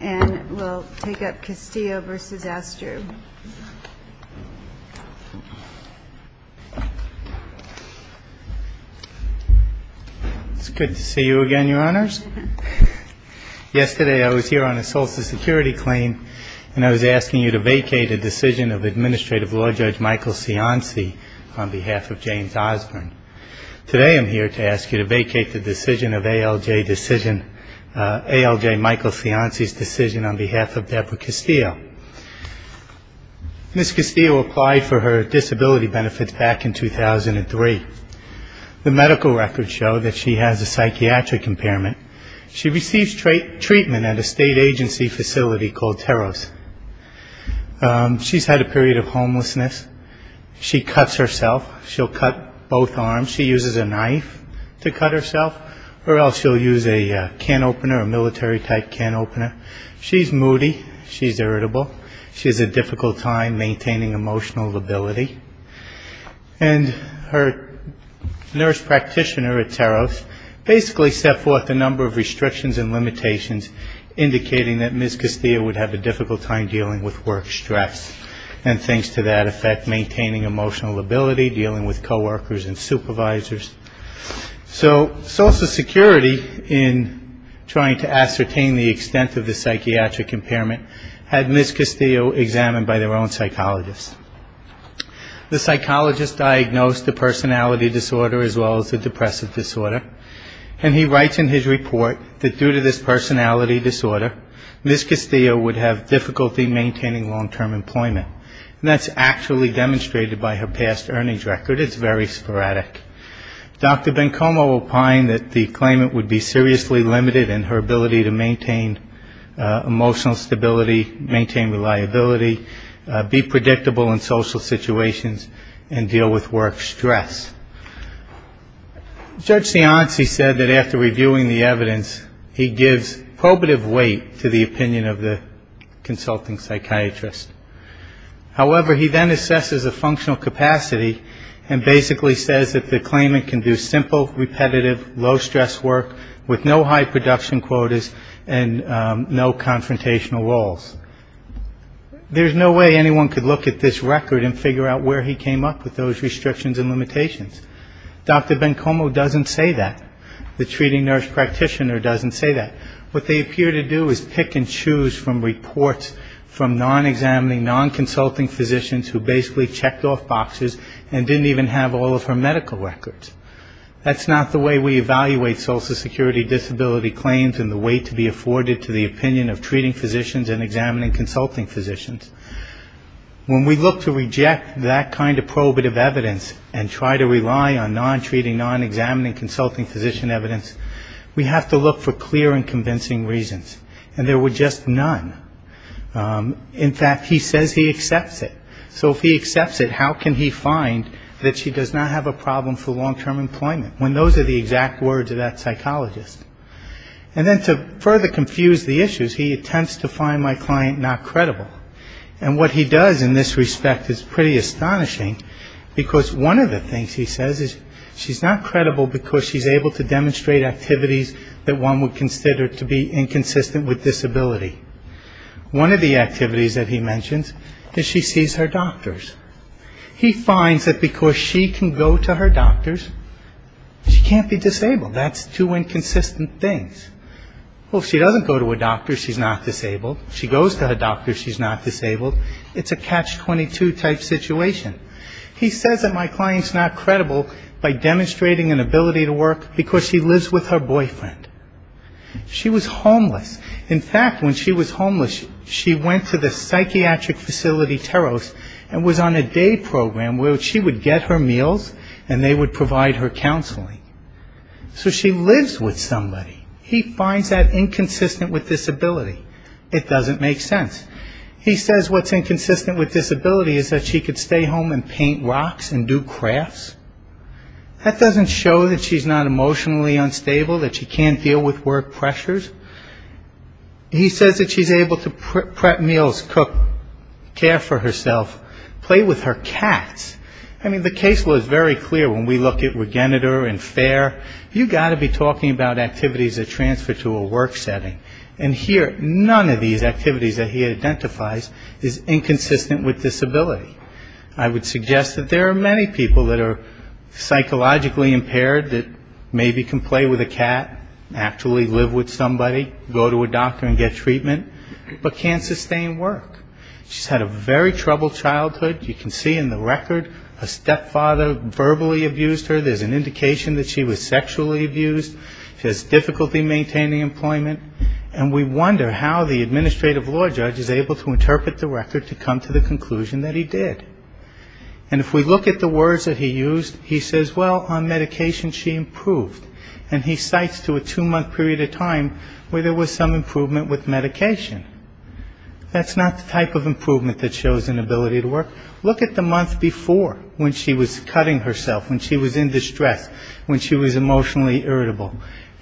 It's good to see you again, Your Honors. Yesterday I was here on a social security claim and I was asking you to vacate a decision of Administrative Law Judge Michael Cianci on behalf of James Osborne. Today I'm here to ask you to vacate the decision of ALJ Michael Cianci's lawyer, James Osborne, on behalf of James Osborne. behalf of Deborah Castillo. Ms. Castillo applied for her disability benefits back in 2003. The medical records show that she has a psychiatric impairment. She receives treatment at a state agency facility called Teros. She's had a period of homelessness. She cuts herself. She'll cut both arms. She uses a knife to cut herself or else she'll use a can opener, a military type can opener. She's been moody. She's irritable. She has a difficult time maintaining emotional ability. And her nurse practitioner at Teros basically set forth a number of restrictions and limitations indicating that Ms. Castillo would have a difficult time dealing with work stress and things to that effect, maintaining emotional ability, dealing with coworkers and supervisors. So social security in trying to ascertain the extent of the psychiatric impairment had Ms. Castillo examined by their own psychologist. The psychologist diagnosed a personality disorder as well as a depressive disorder. And he writes in his report that due to this personality disorder, Ms. Castillo would have difficulty maintaining long-term employment. And that's actually demonstrated by her past earnings record. It's very sporadic. Dr. Bencomo will find that the claimant would be seriously limited in her ability to maintain emotional stability, maintain reliability, be predictable in social situations and deal with work stress. Judge Cianci said that after reviewing the evidence, he gives probative weight to the opinion of the consulting psychiatrist. However, he then assesses a patient's ability to live, low stress work, with no high production quotas and no confrontational roles. There's no way anyone could look at this record and figure out where he came up with those restrictions and limitations. Dr. Bencomo doesn't say that. The treating nurse practitioner doesn't say that. What they appear to do is pick and choose from reports from non-examining, non-consulting physicians who basically checked off boxes and didn't even have all of her medical records. That's not the way we evaluate Social Security disability claims and the way to be afforded to the opinion of treating physicians and examining consulting physicians. When we look to reject that kind of probative evidence and try to rely on non-treating, non-examining consulting physician evidence, we have to look for clear and convincing reasons. And there were just none. In fact, he says he accepts it. So if he accepts it, how can he find a reason that she does not have a problem for long-term employment, when those are the exact words of that psychologist? And then to further confuse the issues, he attempts to find my client not credible. And what he does in this respect is pretty astonishing, because one of the things he says is she's not credible because she's able to demonstrate activities that one would consider to be inconsistent with disability. One of the activities that he mentions is she sees her doctors. He finds that because she sees her doctors, where she can go to her doctors, she can't be disabled. That's two inconsistent things. Well, if she doesn't go to a doctor, she's not disabled. She goes to a doctor, she's not disabled. It's a catch-22 type situation. He says that my client's not credible by demonstrating an ability to work because she lives with her boyfriend. She was homeless. In fact, when she was homeless, she went to the psychiatric facility Teros and was on a day program where she would get her meals and they would provide her counseling. So she lives with somebody. He finds that inconsistent with disability. It doesn't make sense. He says what's inconsistent with disability is that she could stay home and paint rocks and do crafts. That doesn't show that she's not emotionally unstable, that she can't deal with work pressures. He says that she's able to prep meals, cook, care for cats. I mean, the case law is very clear when we look at Regenerator and FAIR. You've got to be talking about activities that transfer to a work setting. And here, none of these activities that he identifies is inconsistent with disability. I would suggest that there are many people that are psychologically impaired that maybe can play with a cat, actually live with somebody, go to a doctor and get treatment, but can't sustain work. She's had a very troubled childhood. You can see in this case that she's had a very troubled childhood. And the record, a stepfather verbally abused her. There's an indication that she was sexually abused. She has difficulty maintaining employment. And we wonder how the administrative law judge is able to interpret the record to come to the conclusion that he did. And if we look at the words that he used, he says, well, on medication she improved. And he cites to a two-month period of time where there was some improvement with medication. That's not the type of improvement that he's talking about. He's talking about a month before when she was cutting herself, when she was in distress, when she was emotionally irritable.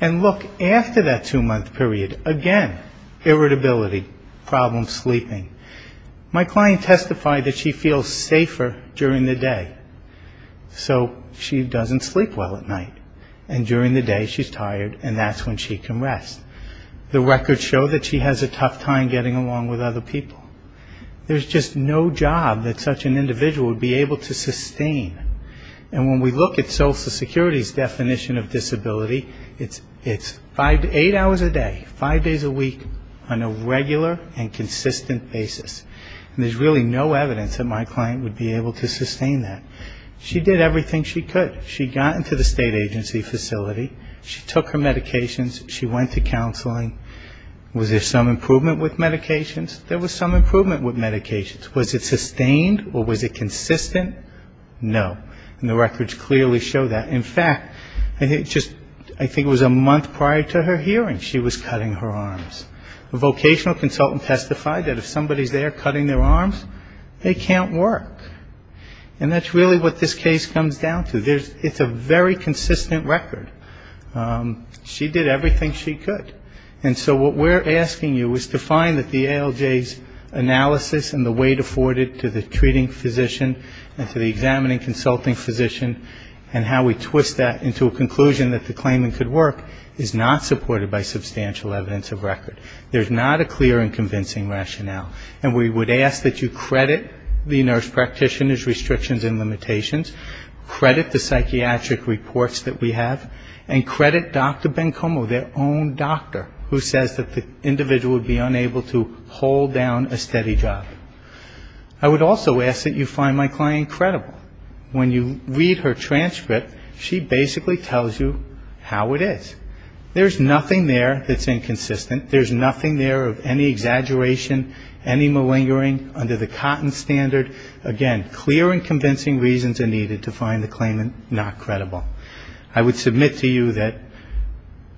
And look, after that two-month period, again, irritability, problem sleeping. My client testified that she feels safer during the day. So she doesn't sleep well at night. And during the day she's tired and that's when she can rest. The records show that she has a tough time getting along with other people. There's just no job that such an individual would be able to sustain. And when we look at Social Security's definition of disability, it's eight hours a day, five days a week, on a regular and consistent basis. And there's really no evidence that my client would be able to sustain that. She did everything she could. She got into the state agency facility. She took her medications. She went to counseling. Was there some improvement with medications? There was some improvement with medications. Was it sustained or was it consistent? No. And the records clearly show that. In fact, just I think it was a month prior to her hearing she was cutting her arms. A vocational consultant testified that if somebody's there cutting their arms, they can't work. And that's really what this case comes down to. It's a very consistent record. She did everything she could. And so what we're asking you is to find that and to the examining consulting physician and how we twist that into a conclusion that the claimant could work is not supported by substantial evidence of record. There's not a clear and convincing rationale. And we would ask that you credit the nurse practitioner's restrictions and limitations, credit the psychiatric reports that we have, and credit Dr. Bencomo, their own doctor who says that the individual would be unable to hold down a steady job. I would also ask that you find my client credible. When you read her transcript, she basically tells you how it is. There's nothing there that's inconsistent. There's nothing there of any exaggeration, any malingering under the cotton standard. Again, clear and convincing reasons are needed to find the claimant not credible. I would submit to you that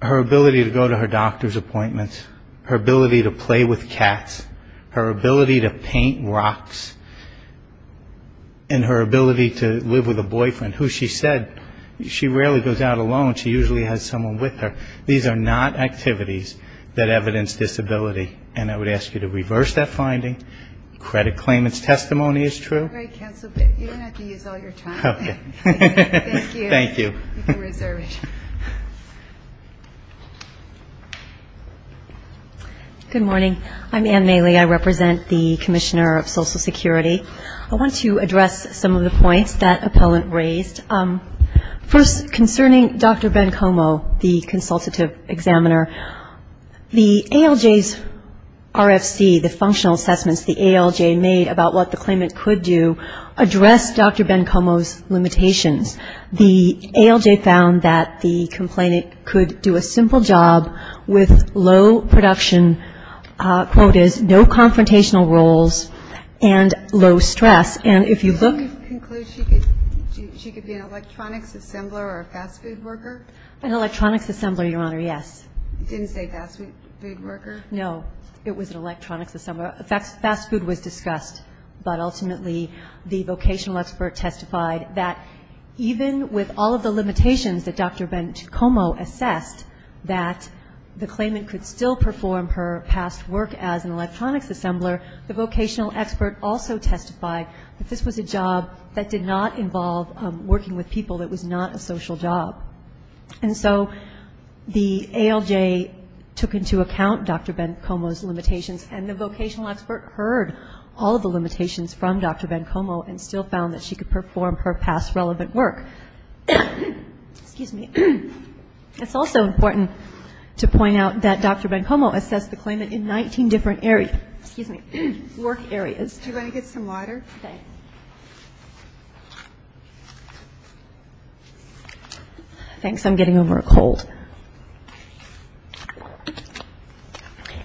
her ability to go to her doctor's appointments, her ability to play with cats, her ability to live with a boyfriend, who she said, she rarely goes out alone. She usually has someone with her. These are not activities that evidence disability. And I would ask you to reverse that finding. Credit claimant's testimony is true. Thank you. Thank you. Good morning. I'm Ann Mailey. I represent the Commissioner of Social Security. I want to address some of the points that appellant raised. First, concerning Dr. Bencomo, the consultative examiner, the ALJ's RFC, the functional assessments the ALJ made about what the claimant could do addressed Dr. Bencomo's limitations. The ALJ found that the complainant could do a simple job with low production quotas, no confrontational roles, and low stress. And if you look... Can you conclude she could be an electronics assembler or a fast food worker? An electronics assembler, Your Honor, yes. Didn't say fast food worker? No, it was an electronics assembler. Fast food was discussed, but ultimately the vocational expert testified that even with all of the limitations that Dr. Bencomo assessed, that the claimant could still perform her past work as an electronics assembler, the vocational expert also testified that this was a job that did not involve working with people. It was not a social job. And so the ALJ took into account Dr. Bencomo's limitations and the vocational expert heard all of the limitations from Dr. Bencomo and still found that she could perform her past relevant work. It's also important to point out that Dr. Bencomo assessed the claimant in 19 different areas. Do you want to get some water? Okay. Thanks, I'm getting over a cold.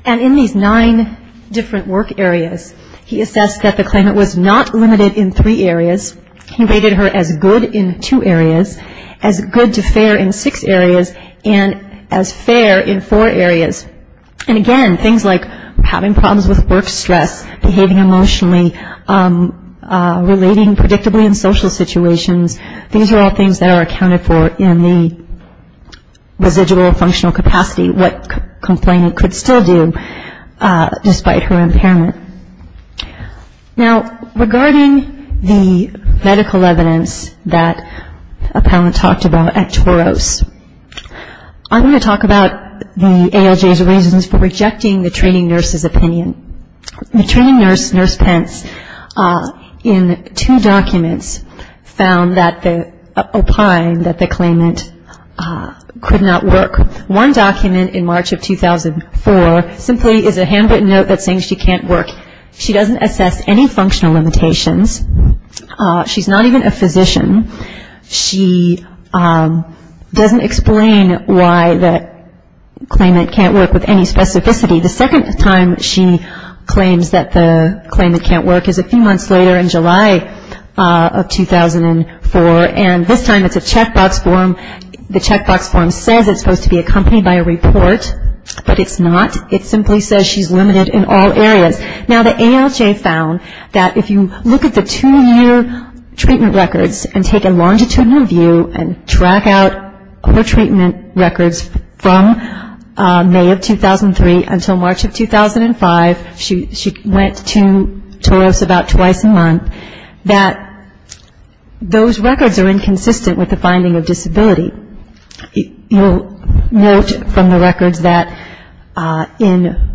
And in these nine different work areas, he assessed that the claimant was not limited in three areas. He rated her as good in two areas, as good to fair in six areas, and as fair in four areas. And again, things like having problems with work stress, behaving emotionally, being in a bad mood. Relating predictably in social situations, these are all things that are accounted for in the residual functional capacity, what complainant could still do despite her impairment. Now, regarding the medical evidence that a panelist talked about at TOROS, I'm going to talk about the ALJ's reasons for rejecting the training nurse's opinion. In two documents found that the opine that the claimant could not work. One document in March of 2004 simply is a handwritten note that's saying she can't work. She doesn't assess any functional limitations. She's not even a physician. She doesn't explain why the claimant can't work with any specificity. The second time she claims that the claimant can't work is a few months later in July of 2004, and this time it's a checkbox form. The checkbox form says it's supposed to be accompanied by a report, but it's not. It simply says she's limited in all areas. Now, the ALJ found that if you look at the two-year treatment records and take a longitudinal view and track out her treatment records from March of 2005, she went to TOROS about twice a month, that those records are inconsistent with the finding of disability. You'll note from the records that in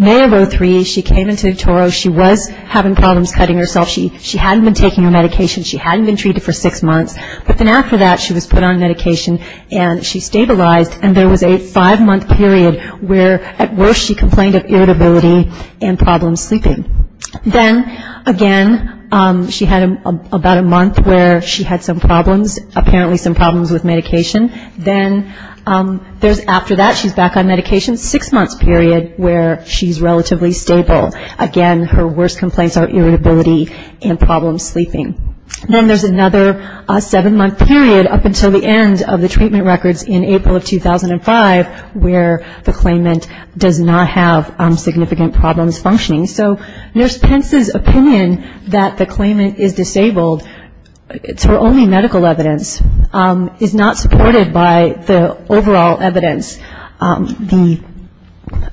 May of 2003, she came into TOROS. She was having problems cutting herself. She hadn't been taking her medication. She hadn't been treated for six months, but then after that she was put on medication and she stabilized, and there was a five-month period where at worst she complained of irritability and problem sleeping. Then again, she had about a month where she had some problems, apparently some problems with medication. Then after that she's back on medication, six months period where she's relatively stable. Again, her worst complaints are irritability and problem sleeping. Then there's another seven-month period up until the end of the treatment records in April of 2005, where the claimant does not have significant problems functioning. So Nurse Pence's opinion that the claimant is disabled, it's her only medical evidence, is not supported by the overall evidence. The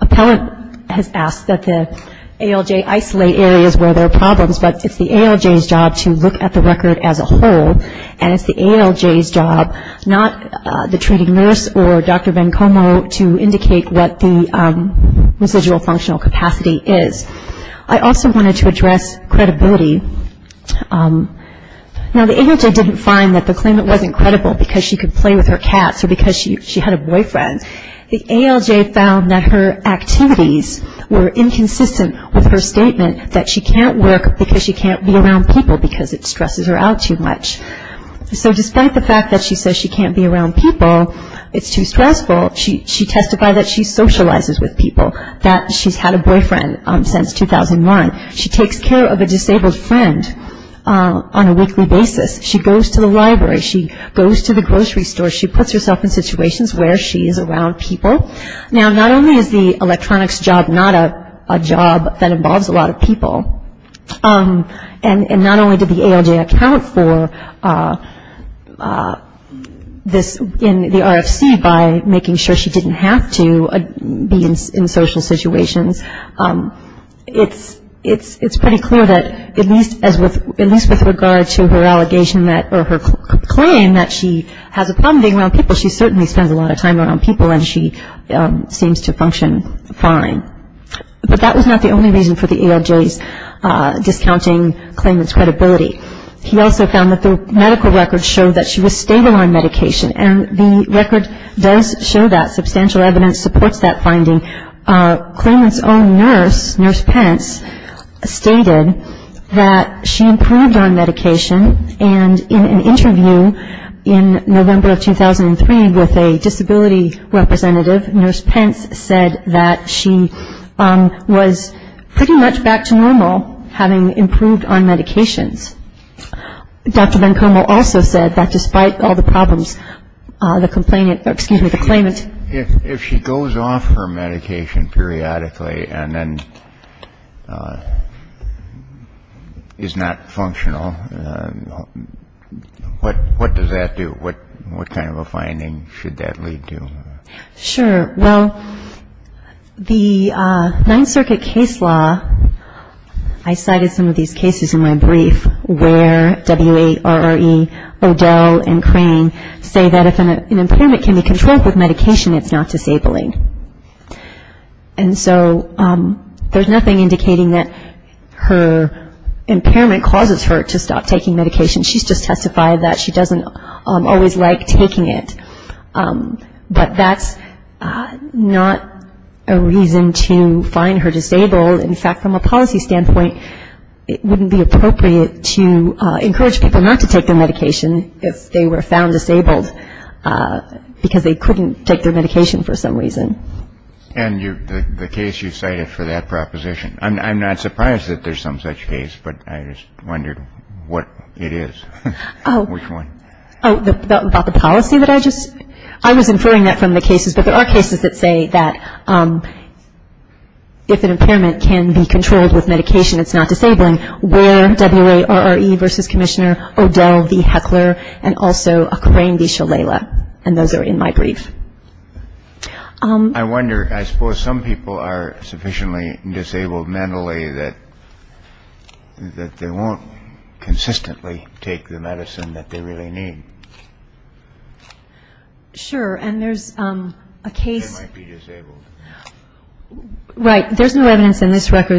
appellate has asked that the ALJ isolate areas where there are problems, but it's the ALJ's job to look at the record as a whole, and it's the ALJ's job, not the treating nurse or Dr. Vencomo, to indicate what the residual functional capacity is. I also wanted to address credibility. Now the ALJ didn't find that the claimant wasn't credible because she could play with her cats or because she had a boyfriend. The ALJ found that her activities were inconsistent with her statement that she can't work because she can't be around people because it stresses her out too much. So despite the fact that she says she can't be around people, it's too stressful, she testified that she socializes with people, that she's had a boyfriend since 2001. She takes care of a disabled friend on a weekly basis. She goes to the library, she goes to the grocery store, she puts herself in situations where she's around people. Now not only is the electronics job not a job that involves a lot of people, and not only did the ALJ account for this in the RFC by making sure she didn't have to be in social situations, it's pretty clear that at least with regard to her allegation that, or her claim that she has a problem being around people, she certainly spends a lot of time around people and she seems to function fine. But that was not the only reason for the ALJ's discounting Claimant's credibility. He also found that the medical records show that she was stable on medication, and the record does show that, substantial evidence supports that finding. Claimant's own nurse, Nurse Pence, stated that she improved on medication, and in an interview in November of 2003 with a disability representative, Nurse Pence said that she was pretty much back to normal, having improved on medications. Dr. Vancomel also said that despite all the problems, the complainant, excuse me, the claimant... If she goes off her medication periodically and then is not functional, what does that do, what kind of a finding should that lead to? Sure, well, the Ninth Circuit case law, I cited some of these cases in my brief, where W.A., R.R.E., O'Dell, and Crane say that if an impairment can be controlled with medication, it's not disabling. And so there's nothing indicating that her impairment causes her to stop taking medication, she's just testified that she doesn't always like taking it, but that's not a reason to find her disabled. In fact, from a policy standpoint, it wouldn't be appropriate to encourage people not to take their medication if they were found disabled, because they couldn't take their medication for some reason. And the case you cited for that proposition, I'm not surprised that there's some such case, but I just wondered what it is, which one. Oh, about the policy that I just... I was inferring that from the cases, but there are cases that say that if an impairment can be controlled with medication, it's not disabling, where W.A., R.R.E., versus Commissioner O'Dell v. Heckler, and also Crane v. Shalala, and those are in my brief. I wonder, I suppose some people are sufficiently disabled mentally that they won't consistently take the medicine that they really need. Sure, and there's a case... where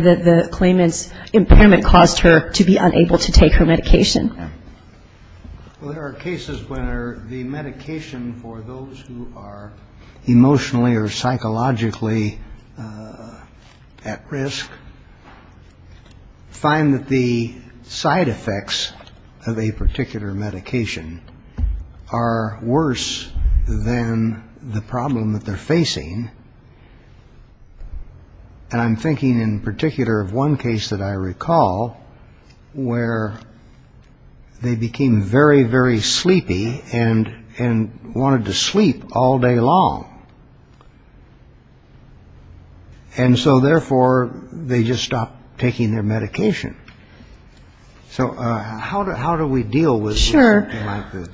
the claimant's impairment caused her to be unable to take her medication. Well, there are cases where the medication for those who are emotionally or psychologically at risk find that the side effects of a particular medication are worse than the problem that they're facing. And I'm thinking in particular of one case that I recall where they became very, very sleepy and wanted to sleep all day long. And so, therefore, they just stopped taking their medication. So how do we deal with something like this?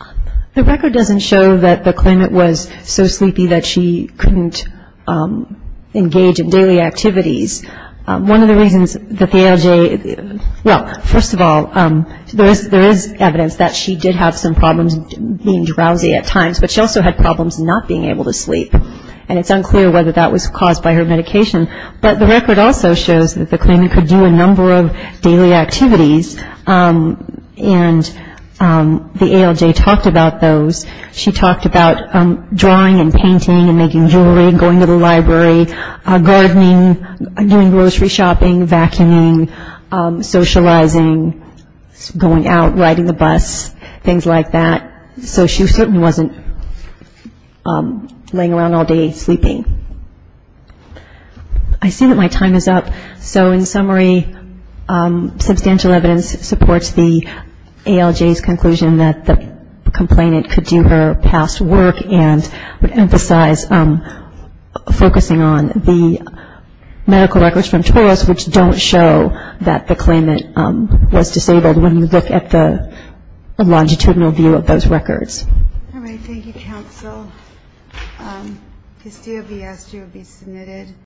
The record doesn't show that the claimant was so sleepy that she couldn't engage in daily activities. One of the reasons that the ALJ... Well, first of all, there is evidence that she did have some problems being drowsy at times, but she also had problems not being able to sleep, and it's unclear whether that was caused by her medication. But the record also shows that the claimant could do a number of daily activities, and the ALJ talked about those. She talked about drawing and painting and making jewelry and going to the library, gardening, doing grocery shopping, vacuuming, socializing, going out, riding the bus, things like that. So she certainly wasn't laying around all day sleeping. I see that my time is up. So in summary, substantial evidence supports the ALJ's conclusion that the complainant could do her past work and would emphasize focusing on the medical records from TORAS which don't show that the claimant was disabled when you look at the longitudinal view of those records. All right, thank you, counsel.